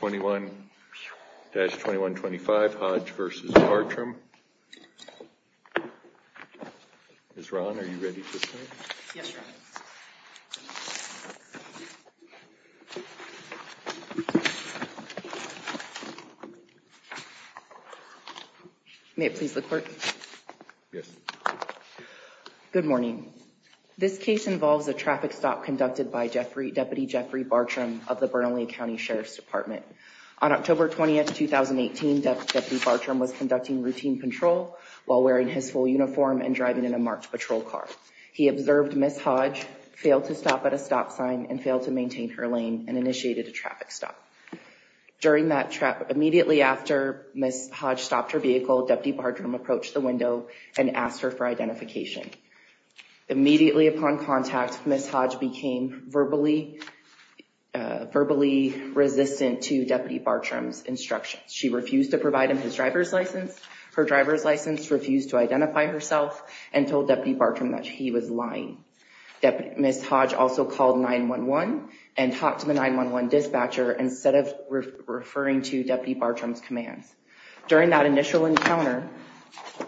21-2125, Hodge v. Bartram. Ms. Rahn, are you ready to speak? Yes, sir. May it please the court? Yes. Good morning. This case involves a traffic stop conducted by Deputy Jeffrey Bartram of the Bernalia County Sheriff's Department. On October 20th, 2018, Deputy Bartram was conducting routine control while wearing his full uniform and driving in a marked patrol car. He observed Ms. Hodge, failed to stop at a stop sign, and failed to maintain her lane and initiated a traffic stop. During that traffic stop, immediately after Ms. Hodge stopped her vehicle, Deputy Bartram approached the window and asked her for identification. Immediately upon contact, Ms. Hodge became verbally resistant to Deputy Bartram's instructions. She refused to provide him his driver's license, her driver's license, refused to identify herself, and told Deputy Bartram that he was lying. Ms. Hodge also called 911 and talked to the 911 dispatcher instead of referring to Deputy Bartram's commands. During that initial encounter,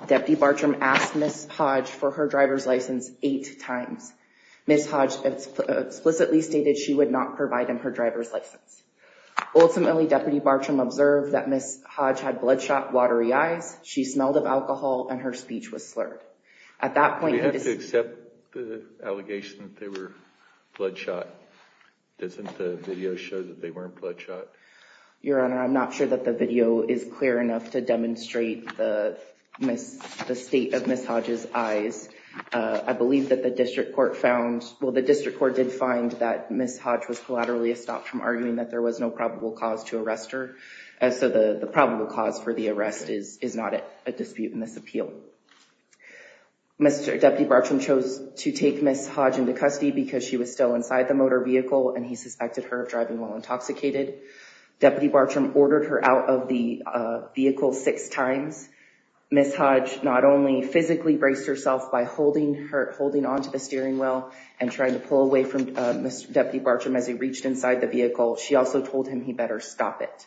Deputy Bartram asked Ms. Hodge for her driver's license eight times. Ms. Hodge explicitly stated she would not provide him her driver's license. Ultimately, Deputy Bartram observed that Ms. Hodge had bloodshot, watery eyes, she smelled of alcohol, and her speech was slurred. At that point, he— Do we have to accept the allegation that they were bloodshot? Doesn't the video show that they weren't bloodshot? Your Honor, I'm not sure that the video is clear enough to demonstrate the state of Ms. Hodge's eyes. I believe that the District Court found— well, the District Court did find that Ms. Hodge was collaterally stopped from arguing that there was no probable cause to arrest her, and so the probable cause for the arrest is not a dispute in this appeal. Deputy Bartram chose to take Ms. Hodge into custody because she was still inside the motor vehicle and he suspected her of driving while intoxicated. Deputy Bartram ordered her out of the vehicle six times. Ms. Hodge not only physically braced herself by holding onto the steering wheel and trying to pull away from Deputy Bartram as he reached inside the vehicle, she also told him he better stop it.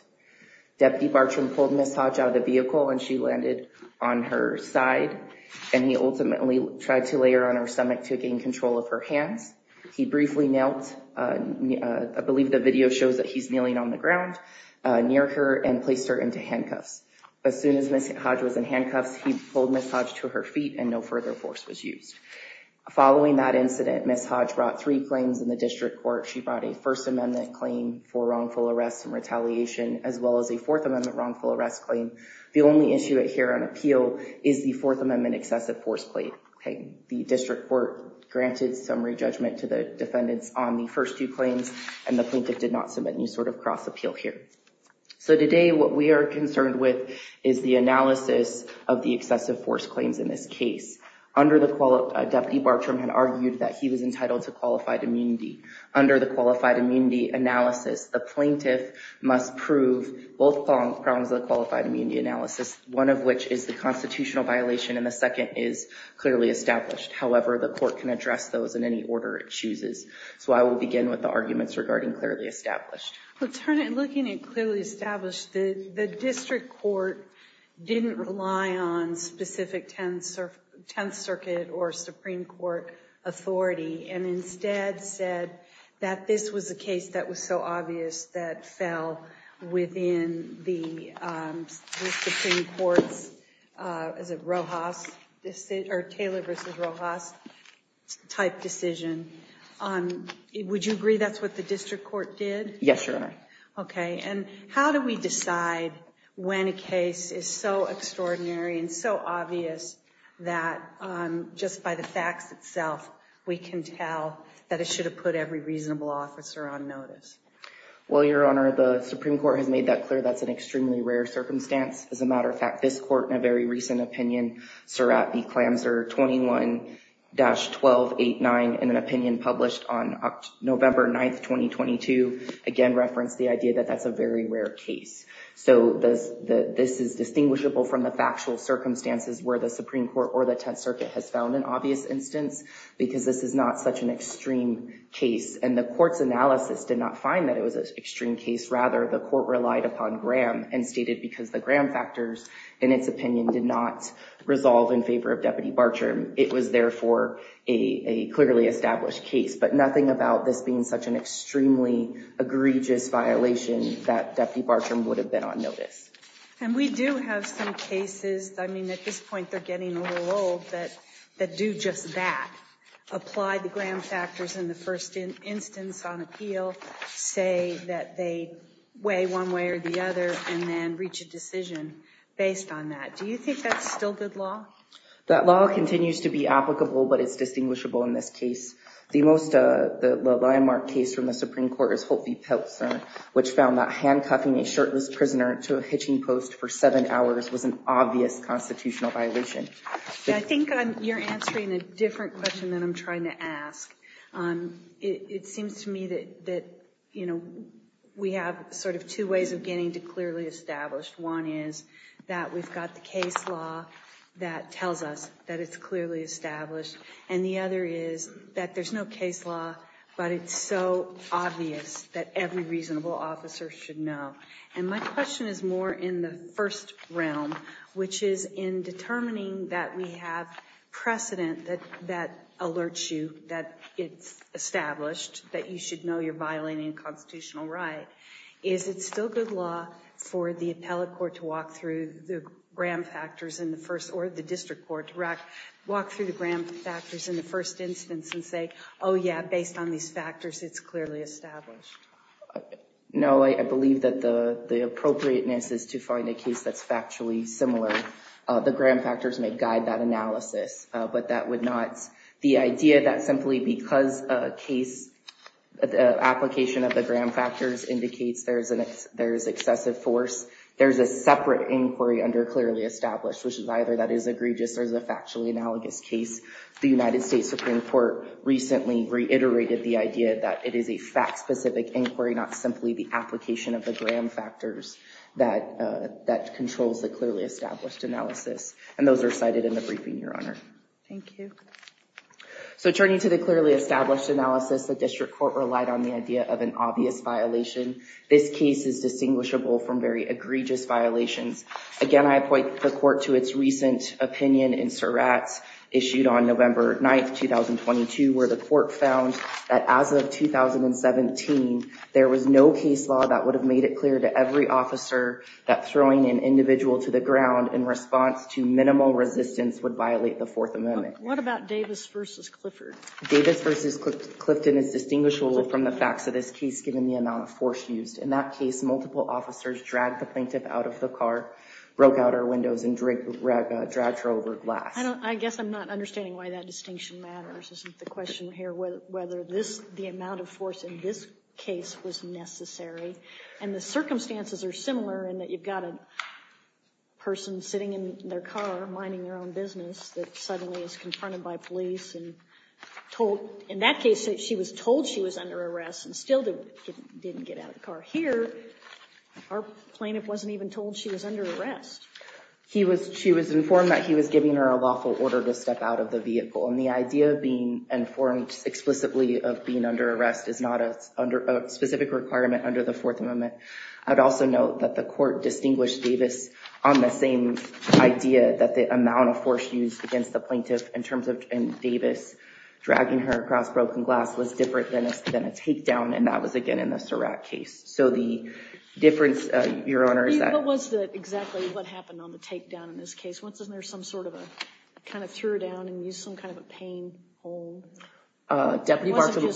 Deputy Bartram pulled Ms. Hodge out of the vehicle and she landed on her side, and he ultimately tried to lay her on her stomach to gain control of her hands. He briefly nailed—I believe the video shows that he's kneeling on the ground near her and placed her into handcuffs. As soon as Ms. Hodge was in handcuffs, he pulled Ms. Hodge to her feet and no further force was used. Following that incident, Ms. Hodge brought three claims in the District Court. She brought a First Amendment claim for wrongful arrest and retaliation as well as a Fourth Amendment wrongful arrest claim. The only issue here on appeal is the Fourth Amendment excessive force plate. The District Court granted summary judgment to the defendants on the first two claims and the plaintiff did not submit any sort of cross-appeal here. So today what we are concerned with is the analysis of the excessive force claims in this case. Under the—Deputy Bartram had argued that he was entitled to qualified immunity. Under the qualified immunity analysis, the plaintiff must prove both prongs of the qualified immunity analysis, one of which is the constitutional violation and the second is clearly established. However, the court can address those in any order it chooses. So I will begin with the arguments regarding clearly established. Well, turning—looking at clearly established, the District Court didn't rely on specific Tenth Circuit or Supreme Court authority and instead said that this was a case that was so obvious that fell within the Supreme Court's—is it Rojas—or Taylor v. Rojas type decision. Would you agree that's what the District Court did? Yes, Your Honor. Okay, and how do we decide when a case is so extraordinary and so obvious that just by the facts itself we can tell that it should have put every reasonable officer on notice? Well, Your Honor, the Supreme Court has made that clear. That's an extremely rare circumstance. As a matter of fact, this court in a very recent opinion, Surrat v. Clamser 21-1289 in an opinion published on November 9th, 2022, again referenced the idea that that's a very rare case. So this is distinguishable from the factual circumstances where the Supreme Court or the Tenth Circuit has found an obvious instance because this is not such an extreme case and the court's analysis did not find that it was an extreme case. Rather, the court relied upon Graham and stated because the Graham factors in its opinion did not resolve in favor of Deputy Bartram, it was therefore a clearly established case. But nothing about this being such an extremely egregious violation that Deputy Bartram would have been on notice. And we do have some cases, I mean at this point they're getting a little old, that do just that. Apply the Graham factors in the first instance on appeal, say that they weigh one way or the other, and then reach a decision based on that. Do you think that's still good law? That law continues to be applicable, but it's distinguishable in this case. The most landmark case from the Supreme Court is Holt v. Peltzer, which found that handcuffing a shirtless prisoner to a hitching post for seven hours was an obvious constitutional violation. I think you're answering a different question than I'm trying to ask. It seems to me that we have sort of two ways of getting to clearly established. One is that we've got the case law that tells us that it's clearly established. And the other is that there's no case law, but it's so obvious that every reasonable officer should know. And my question is more in the first realm, which is in determining that we have precedent that alerts you that it's established, that you should know you're violating a constitutional right. Is it still good law for the appellate court to walk through the Graham factors in the first or the district court to walk through the Graham factors in the first instance and say, oh yeah, based on these factors, it's clearly established? No, I believe that the appropriateness is to find a case that's factually similar. The Graham factors may guide that analysis, but that would not, the idea that simply because a case, the application of the Graham factors indicates there's excessive force. There's a separate inquiry under clearly established, which is either that is egregious or is a factually analogous case. The United States Supreme Court recently reiterated the idea that it is a fact-specific inquiry, not simply the application of the Graham factors that controls the clearly established analysis. And those are cited in the briefing, Your Honor. Thank you. So turning to the clearly established analysis, the district court relied on the idea of an obvious violation. This case is distinguishable from very egregious violations. Again, I point the court to its recent opinion in Surratt's, issued on November 9th, 2022, where the court found that as of 2017, there was no case law that would have made it clear to every officer that throwing an individual to the ground in response to minimal resistance would violate the Fourth Amendment. What about Davis v. Clifford? Davis v. Clifton is distinguishable from the facts of this case, given the amount of force used. In that case, multiple officers dragged the plaintiff out of the car, broke out her windows, and dragged her over glass. I guess I'm not understanding why that distinction matters, isn't the question here whether this, the amount of force in this case was necessary? And the circumstances are similar in that you've got a person sitting in their car, minding their own business, that suddenly is confronted by police and told, in that case, she was told she was under arrest and still didn't get out of the car. Here, our plaintiff wasn't even told she was under arrest. He was, she was informed that he was giving her a lawful order to step out of the vehicle. And the idea of being informed explicitly of being under arrest is not a specific requirement under the Fourth Amendment. I'd also note that the court distinguished Davis on the same idea that the amount of force used against the plaintiff, in terms of Davis dragging her across broken glass, was different than a takedown. And that was, again, in the Surratt case. So the difference, Your Honor, is that— What was the, exactly what happened on the takedown in this case? Wasn't there some sort of a, kind of threw her down and used some kind of a pain hole? Deputy Bartram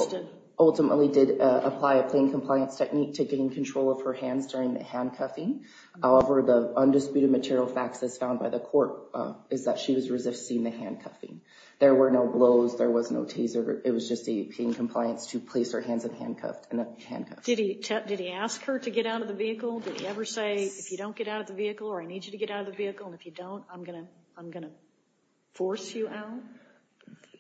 ultimately did apply a plain compliance technique to getting control of her hands during the handcuffing. However, the undisputed material facts as found by the court is that she was resisting the handcuffing. There were no blows. There was no taser. It was just a plain compliance to place her hands in handcuffs. Did he ask her to get out of the vehicle? Did he ever say, if you don't get out of the vehicle, or I need you to get out of the vehicle, and if you don't, I'm going to force you out?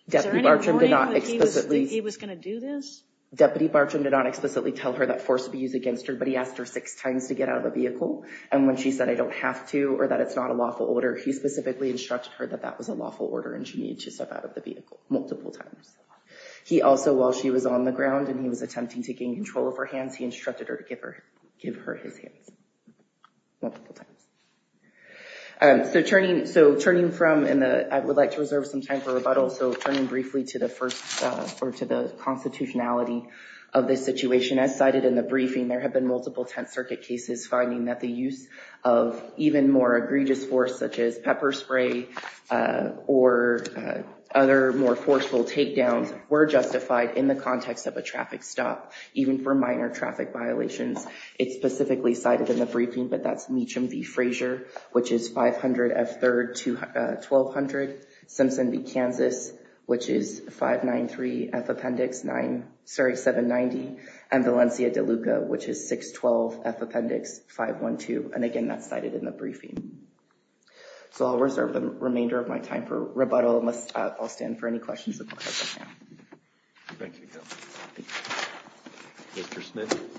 Is there any warning that he was going to do this? Deputy Bartram did not explicitly tell her that force be used against her, but he asked her six times to get out of the vehicle. And when she said, I don't have to, or that it's not a lawful order, he specifically instructed her that that was a lawful order and she needed to step out of the vehicle multiple times. He also, while she was on the ground and he was attempting to gain control of her hands, he instructed her to give her his hands multiple times. So turning from, and I would like to reserve some time for rebuttal, so turning briefly to the constitutionality of this situation, as cited in the briefing, there have been multiple Tenth Circuit cases finding that the use of even more egregious force such as pepper spray or other more forceful takedowns were justified in the context of a traffic stop, even for minor traffic violations. It's specifically cited in the briefing, but that's Meacham v. Frazier, which is 500 F. 3rd, 1200 Simpson v. Kansas, which is 593 F. Appendix 9, sorry, 790, and Valencia de Luca, which is 612 F. Appendix 512. And again, that's cited in the briefing. So I'll reserve the remainder of my time for rebuttal, unless I'll stand for any questions. Thank you. Mr. Smith.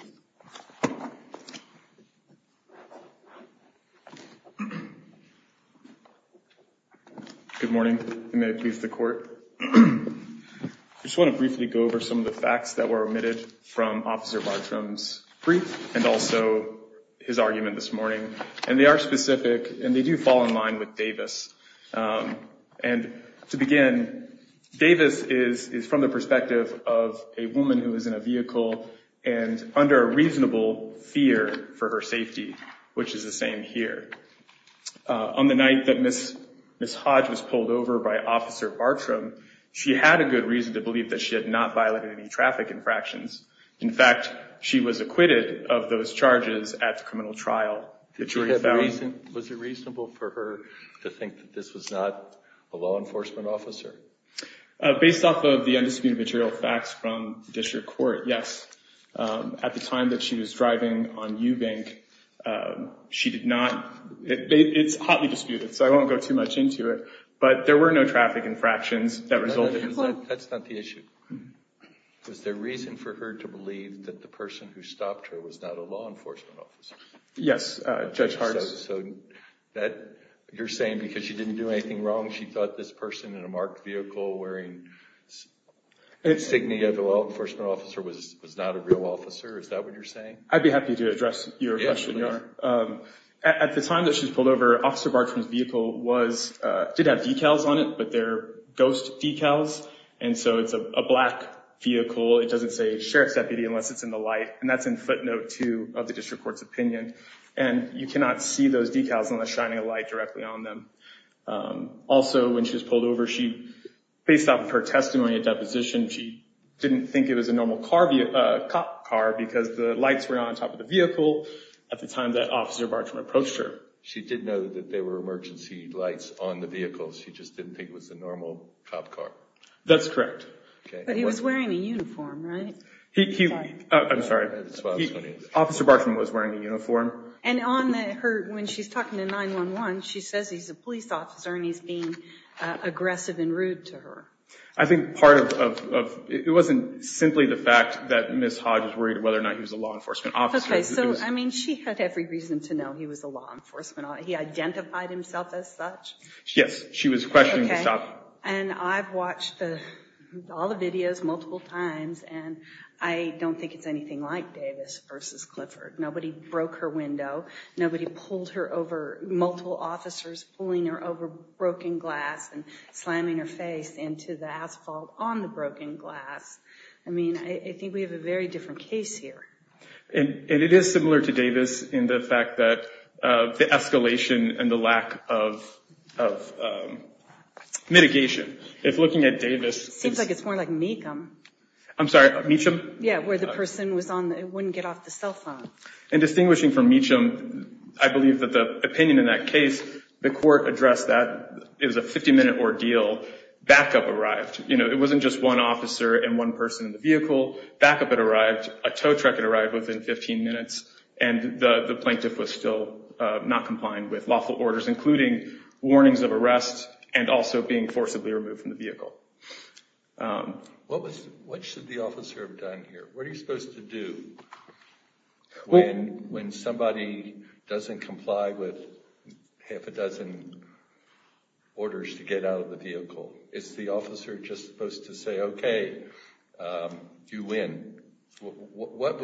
Good morning, and may it please the court. I just want to briefly go over some of the facts that were omitted from Officer Bartram's brief, and also his argument this morning. And they are specific, and they do fall in line with Davis. And to begin, Davis is from the perspective of a woman who is in a vehicle and under a reasonable fear for her safety, which is the same here. On the night that Ms. Hodge was pulled over by Officer Bartram, she had a good reason to believe that she had not violated any traffic infractions. In fact, she was acquitted of those charges at the criminal trial. Was it reasonable for her to think that this was not a law enforcement officer? Based off of the undisputed material facts from the district court, yes. At the time that she was driving on Eubank, she did not. It's hotly disputed, so I won't go too much into it. But there were no traffic infractions that resulted in that. That's not the issue. Was there reason for her to believe that the person who stopped her was not a law enforcement officer? Yes, Judge Harts. So you're saying because she didn't do anything wrong, she thought this person in a marked vehicle wearing insignia of a law enforcement officer was not a real officer? Is that what you're saying? I'd be happy to address your question, Your Honor. At the time that she was pulled over, Officer Bartram's vehicle did have decals on it, but they're ghost decals, and so it's a black vehicle. It doesn't say sheriff's deputy unless it's in the light, and that's in footnote 2 of the district court's opinion. And you cannot see those decals unless shining a light directly on them. Also, when she was pulled over, based off of her testimony at deposition, she didn't think it was a normal cop car because the lights were on top of the vehicle at the time that Officer Bartram approached her. She did know that there were emergency lights on the vehicle. She just didn't think it was a normal cop car. That's correct. But he was wearing a uniform, right? I'm sorry. Officer Bartram was wearing a uniform. And on her, when she's talking to 911, she says he's a police officer and he's being aggressive and rude to her. I think part of, it wasn't simply the fact that Ms. Hodge was worried whether or not he was a law enforcement officer. Okay, so, I mean, she had every reason to know he was a law enforcement officer. He identified himself as such? Yes, she was questioning the shot. Okay, and I've watched all the videos multiple times, and I don't think it's anything like Davis versus Clifford. Nobody broke her window. Nobody pulled her over, multiple officers pulling her over broken glass and slamming her face into the asphalt on the broken glass. I mean, I think we have a very different case here. And it is similar to Davis in the fact that the escalation and the lack of mitigation. If looking at Davis. Seems like it's more like Meacham. I'm sorry, Meacham? Yeah, where the person was on, wouldn't get off the cell phone. And distinguishing from Meacham, I believe that the opinion in that case, the court addressed that it was a 50-minute ordeal, backup arrived. You know, it wasn't just one officer and one person in the vehicle. Backup had arrived, a tow truck had arrived within 15 minutes, and the plaintiff was still not complying with lawful orders, including warnings of arrest and also being forcibly removed from the vehicle. What should the officer have done here? What are you supposed to do when somebody doesn't comply with half a dozen orders to get out of the vehicle? Is the officer just supposed to say, okay, you win? What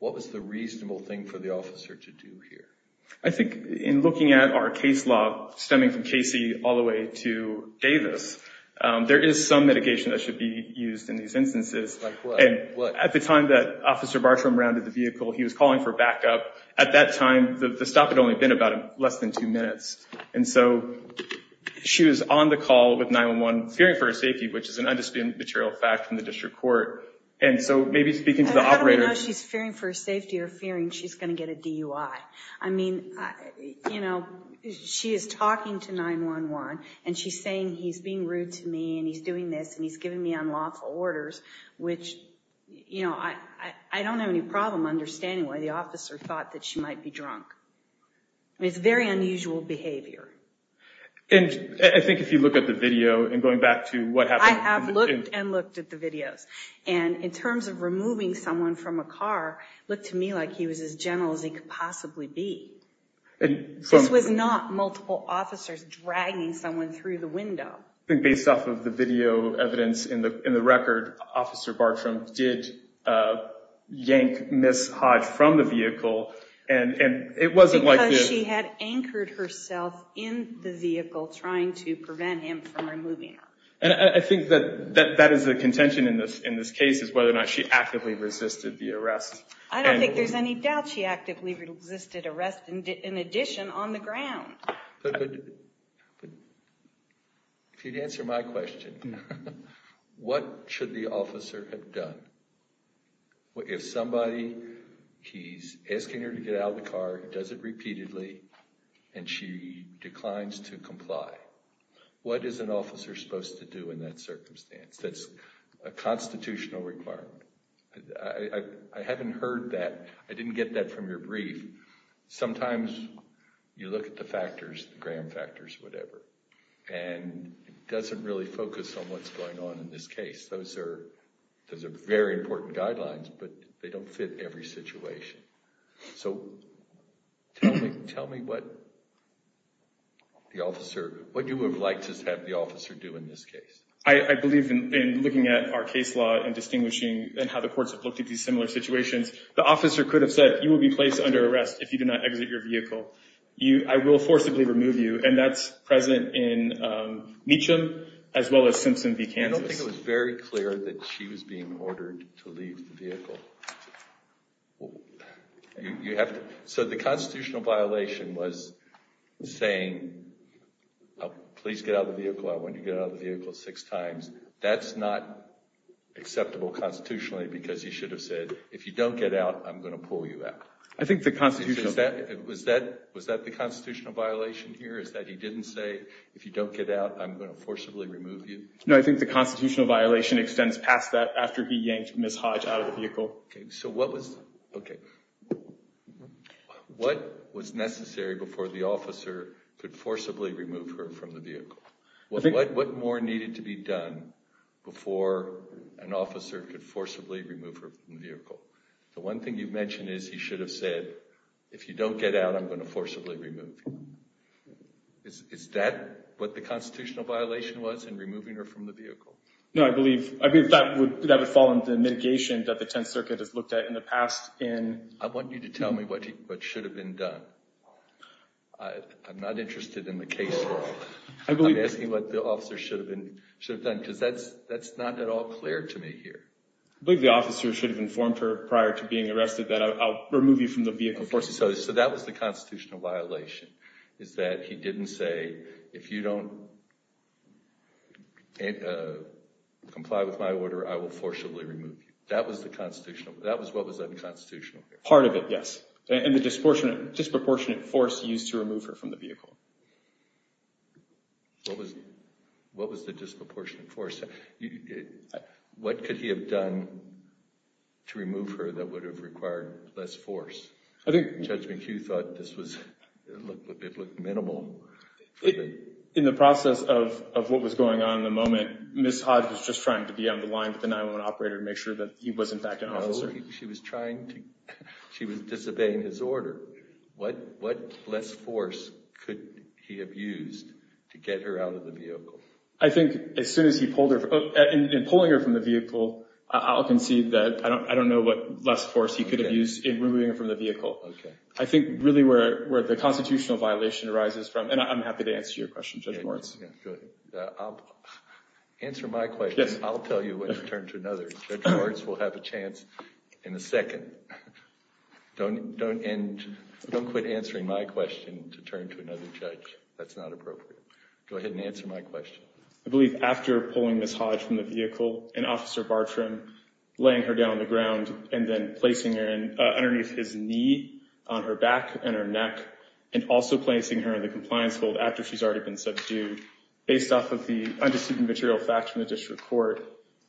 was the reasonable thing for the officer to do here? I think in looking at our case law, stemming from Casey all the way to Davis, there is some mitigation that should be used in these instances. Like what? At the time that Officer Bartram rounded the vehicle, he was calling for backup. At that time, the stop had only been about less than two minutes. And so she was on the call with 911, fearing for her safety, which is an undisputed material fact from the district court. And so maybe speaking to the operators. How do we know she's fearing for her safety or fearing she's going to get a DUI? I mean, you know, she is talking to 911, and she's saying he's being rude to me, and he's doing this, and he's giving me unlawful orders, which, you know, I don't have any problem understanding why the officer thought that she might be drunk. I mean, it's very unusual behavior. And I think if you look at the video, and going back to what happened. I have looked and looked at the videos. And in terms of removing someone from a car, it looked to me like he was as gentle as he could possibly be. This was not multiple officers dragging someone through the window. Based off of the video evidence in the record, Officer Bartram did yank Ms. Hodge from the vehicle. Because she had anchored herself in the vehicle, trying to prevent him from removing her. And I think that is the contention in this case, is whether or not she actively resisted the arrest. I don't think there's any doubt she actively resisted arrest, in addition, on the ground. If you'd answer my question, what should the officer have done? If somebody, he's asking her to get out of the car, does it repeatedly, and she declines to comply. What is an officer supposed to do in that circumstance? That's a constitutional requirement. I haven't heard that. I didn't get that from your brief. Sometimes you look at the factors, the gram factors, whatever. And it doesn't really focus on what's going on in this case. Those are very important guidelines, but they don't fit every situation. So tell me what the officer, what you would have liked to have the officer do in this case. I believe in looking at our case law and distinguishing, and how the courts have looked at these similar situations, the officer could have said, you will be placed under arrest if you do not exit your vehicle. I will forcibly remove you. And that's present in Meacham, as well as Simpson v. Kansas. I don't think it was very clear that she was being ordered to leave the vehicle. So the constitutional violation was saying, please get out of the vehicle, I want you to get out of the vehicle six times. That's not acceptable constitutionally, because he should have said, if you don't get out, I'm going to pull you out. Was that the constitutional violation here, is that he didn't say, if you don't get out, I'm going to forcibly remove you? No, I think the constitutional violation extends past that, after he yanked Ms. Hodge out of the vehicle. So what was necessary before the officer could forcibly remove her from the vehicle? What more needed to be done before an officer could forcibly remove her from the vehicle? The one thing you've mentioned is he should have said, if you don't get out, I'm going to forcibly remove you. Is that what the constitutional violation was in removing her from the vehicle? No, I believe that would fall under the mitigation that the Tenth Circuit has looked at in the past. I want you to tell me what should have been done. I'm not interested in the case at all. I'm asking what the officer should have done, because that's not at all clear to me here. I believe the officer should have informed her prior to being arrested that I'll remove you from the vehicle. So that was the constitutional violation, is that he didn't say, if you don't comply with my order, I will forcibly remove you. That was what was unconstitutional. Part of it, yes. And the disproportionate force used to remove her from the vehicle. What was the disproportionate force? What could he have done to remove her that would have required less force? Judge McHugh thought it looked minimal. In the process of what was going on in the moment, Ms. Hodge was just trying to be on the line with the 911 operator to make sure that he was in fact an officer. No, she was trying to – she was disobeying his order. What less force could he have used to get her out of the vehicle? I think as soon as he pulled her – in pulling her from the vehicle, I'll concede that I don't know what less force he could have used in removing her from the vehicle. I think really where the constitutional violation arises from – and I'm happy to answer your question, Judge Moritz. Answer my question. I'll tell you when to turn to another. Judge Moritz will have a chance in a second. Don't end – don't quit answering my question to turn to another judge. That's not appropriate. Go ahead and answer my question. I believe after pulling Ms. Hodge from the vehicle and Officer Bartram laying her down on the ground and then placing her underneath his knee on her back and her neck and also placing her in the compliance hold after she's already been subdued, based off of the undisputed material facts from the district court,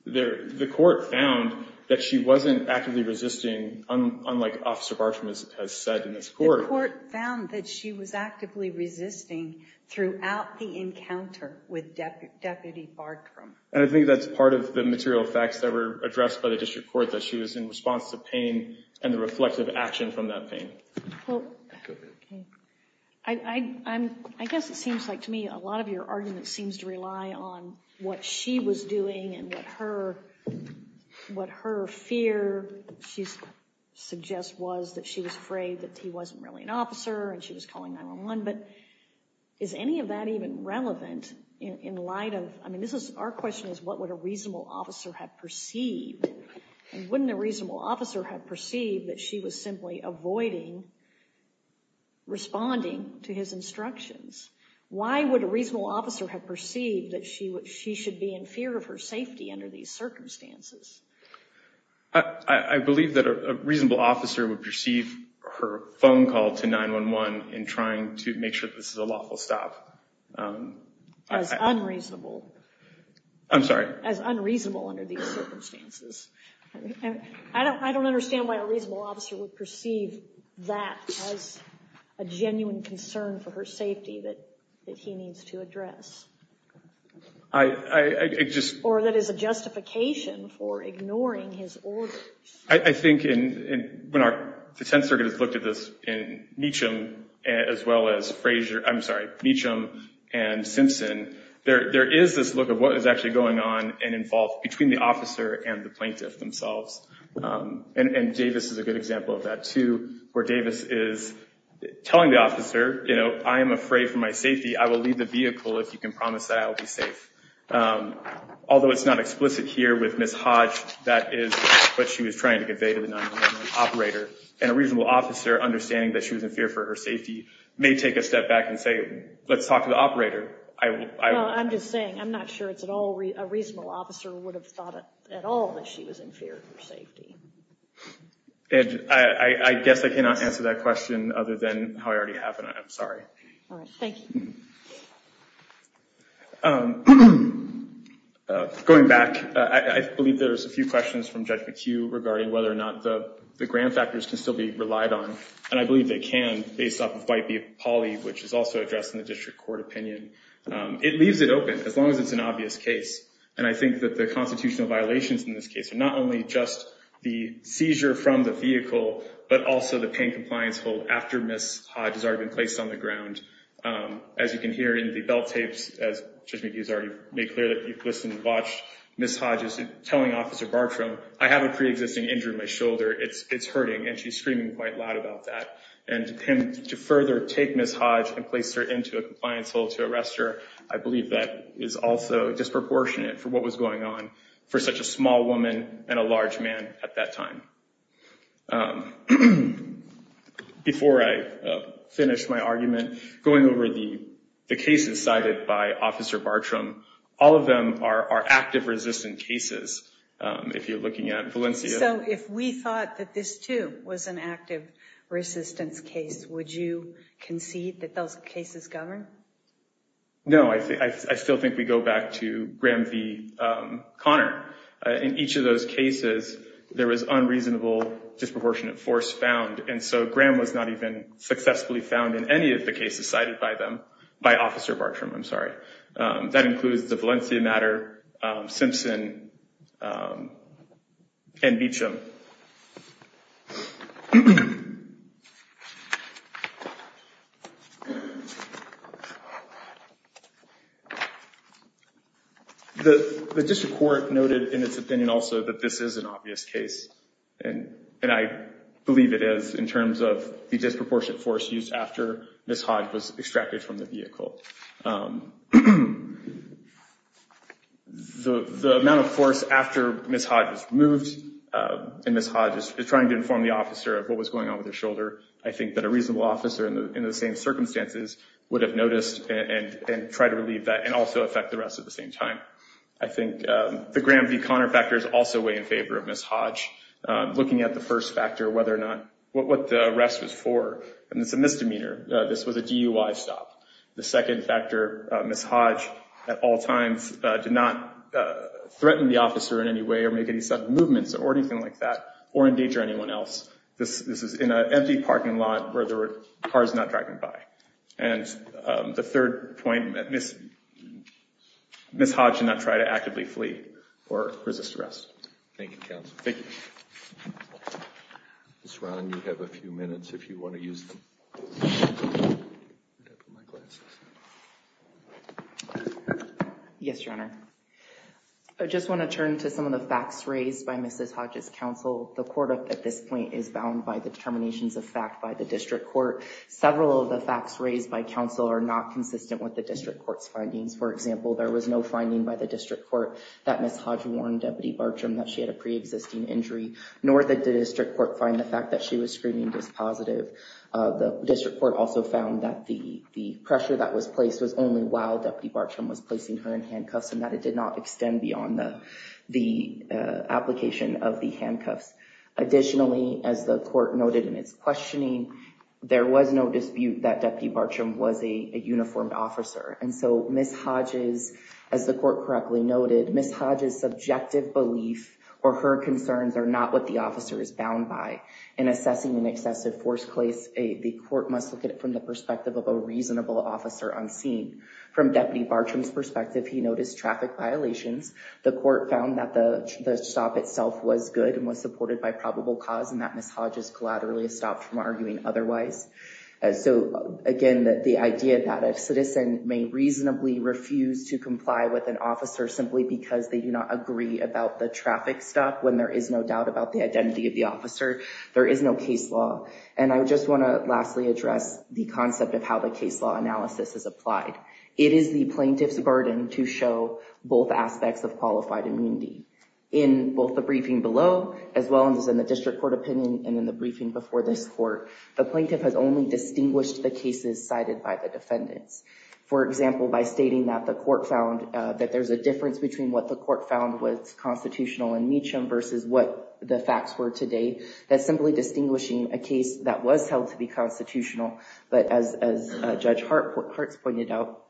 the court found that she wasn't actively resisting, unlike Officer Bartram has said in this court. The court found that she was actively resisting throughout the encounter with Deputy Bartram. And I think that's part of the material facts that were addressed by the district court, that she was in response to pain and the reflective action from that pain. Well, I guess it seems like to me a lot of your argument seems to rely on what she was doing and what her fear she suggests was that she was afraid that he wasn't really an officer and she was calling 911, but is any of that even relevant in light of – I mean, this is – our question is what would a reasonable officer have perceived? And wouldn't a reasonable officer have perceived that she was simply avoiding responding to his instructions? Why would a reasonable officer have perceived that she should be in fear of her safety under these circumstances? I believe that a reasonable officer would perceive her phone call to 911 in trying to make sure that this is a lawful stop. As unreasonable. I'm sorry? As unreasonable under these circumstances. I don't understand why a reasonable officer would perceive that as a genuine concern for her safety that he needs to address. I just – Or that is a justification for ignoring his orders. I think in – when our defense circuit has looked at this in Meacham as well as Fraser – I'm sorry, Meacham and Simpson, there is this look of what is actually going on and involved between the officer and the plaintiff themselves. And Davis is a good example of that too, where Davis is telling the officer, you know, I am afraid for my safety. I will leave the vehicle if you can promise that I will be safe. Although it's not explicit here with Ms. Hodge, that is what she was trying to convey to the 911 operator. And a reasonable officer, understanding that she was in fear for her safety, may take a step back and say, let's talk to the operator. I'm just saying, I'm not sure it's at all – a reasonable officer would have thought at all that she was in fear for her safety. Ed, I guess I cannot answer that question other than how I already have, and I'm sorry. All right. Thank you. Going back, I believe there's a few questions from Judge McHugh regarding whether or not the grant factors can still be relied on. And I believe they can, based off of White v. Pauley, which is also addressed in the district court opinion. It leaves it open, as long as it's an obvious case. And I think that the constitutional violations in this case are not only just the seizure from the vehicle, but also the pain compliance hold after Ms. Hodge has already been placed on the ground. As you can hear in the belt tapes, as Judge McHugh has already made clear that you've listened and watched, Ms. Hodge is telling Officer Bartram, I have a preexisting injury to my shoulder. It's hurting, and she's screaming quite loud about that. And to further take Ms. Hodge and place her into a compliance hold to arrest her, I believe that is also disproportionate for what was going on for such a small woman and a large man at that time. Before I finish my argument, going over the cases cited by Officer Bartram, all of them are active, resistant cases, if you're looking at Valencia. So if we thought that this, too, was an active resistance case, would you concede that those cases govern? No, I still think we go back to Graham v. Conner. In each of those cases, there was unreasonable disproportionate force found. And so Graham was not even successfully found in any of the cases cited by Officer Bartram. That includes the Valencia matter, Simpson, and Beecham. The district court noted in its opinion also that this is an obvious case, and I believe it is in terms of the disproportionate force used after Ms. Hodge was extracted from the vehicle. The amount of force after Ms. Hodge was removed and Ms. Hodge is trying to inform the officer of what was going on with her shoulder, I think that a reasonable officer in the same circumstances would have noticed and tried to relieve that and also affect the rest at the same time. I think the Graham v. Conner factor is also way in favor of Ms. Hodge. Looking at the first factor, what the arrest was for, and it's a misdemeanor. This was a DUI stop. The second factor, Ms. Hodge at all times did not threaten the officer in any way or make any sudden movements or anything like that or endanger anyone else. This is in an empty parking lot where there were cars not driving by. And the third point, Ms. Hodge did not try to actively flee or resist arrest. Thank you, counsel. Thank you. Yes, Your Honor. I just want to turn to some of the facts raised by Ms. Hodge's counsel. The court at this point is bound by the determinations of fact by the district court. Several of the facts raised by counsel are not consistent with the district court's findings. For example, there was no finding by the district court that Ms. Hodge warned Deputy Bartram that she had a preexisting injury, nor did the district court find the fact that she was screaming dispositive. The district court also found that the pressure that was placed was only while Deputy Bartram was placing her in handcuffs and that it did not extend beyond the application of the handcuffs. Additionally, as the court noted in its questioning, there was no dispute that Deputy Bartram was a uniformed officer. And so, Ms. Hodge's, as the court correctly noted, Ms. Hodge's subjective belief or her concerns are not what the officer is bound by. In assessing an excessive force place, the court must look at it from the perspective of a reasonable officer on scene. From Deputy Bartram's perspective, he noticed traffic violations. The court found that the stop itself was good and was supported by probable cause and that Ms. Hodge's collaterally stopped from arguing otherwise. So, again, the idea that a citizen may reasonably refuse to comply with an officer simply because they do not agree about the traffic stop when there is no doubt about the identity of the officer, there is no case law. And I just want to lastly address the concept of how the case law analysis is applied. It is the plaintiff's burden to show both aspects of qualified immunity. In both the briefing below, as well as in the district court opinion, and in the briefing before this court, the plaintiff has only distinguished the cases cited by the defendants. For example, by stating that the court found that there's a difference between what the court found was constitutional in Meacham versus what the facts were today, that's simply distinguishing a case that was held to be constitutional, but as Judge Hartz pointed out,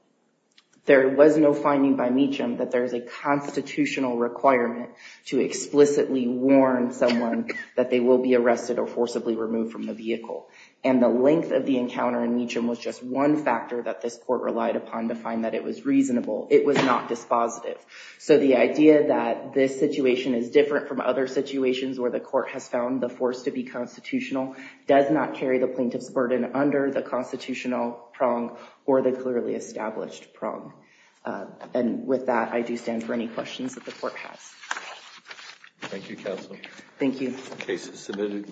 there was no finding by Meacham that there is a constitutional requirement to explicitly warn someone that they will be arrested or forcibly removed from the vehicle. And the length of the encounter in Meacham was just one factor that this court relied upon to find that it was reasonable. It was not dispositive. So the idea that this situation is different from other situations where the court has found the force to be constitutional does not carry the plaintiff's burden under the constitutional prong or the clearly established prong. And with that, I do stand for any questions that the court has. Thank you, Counsel. Thank you.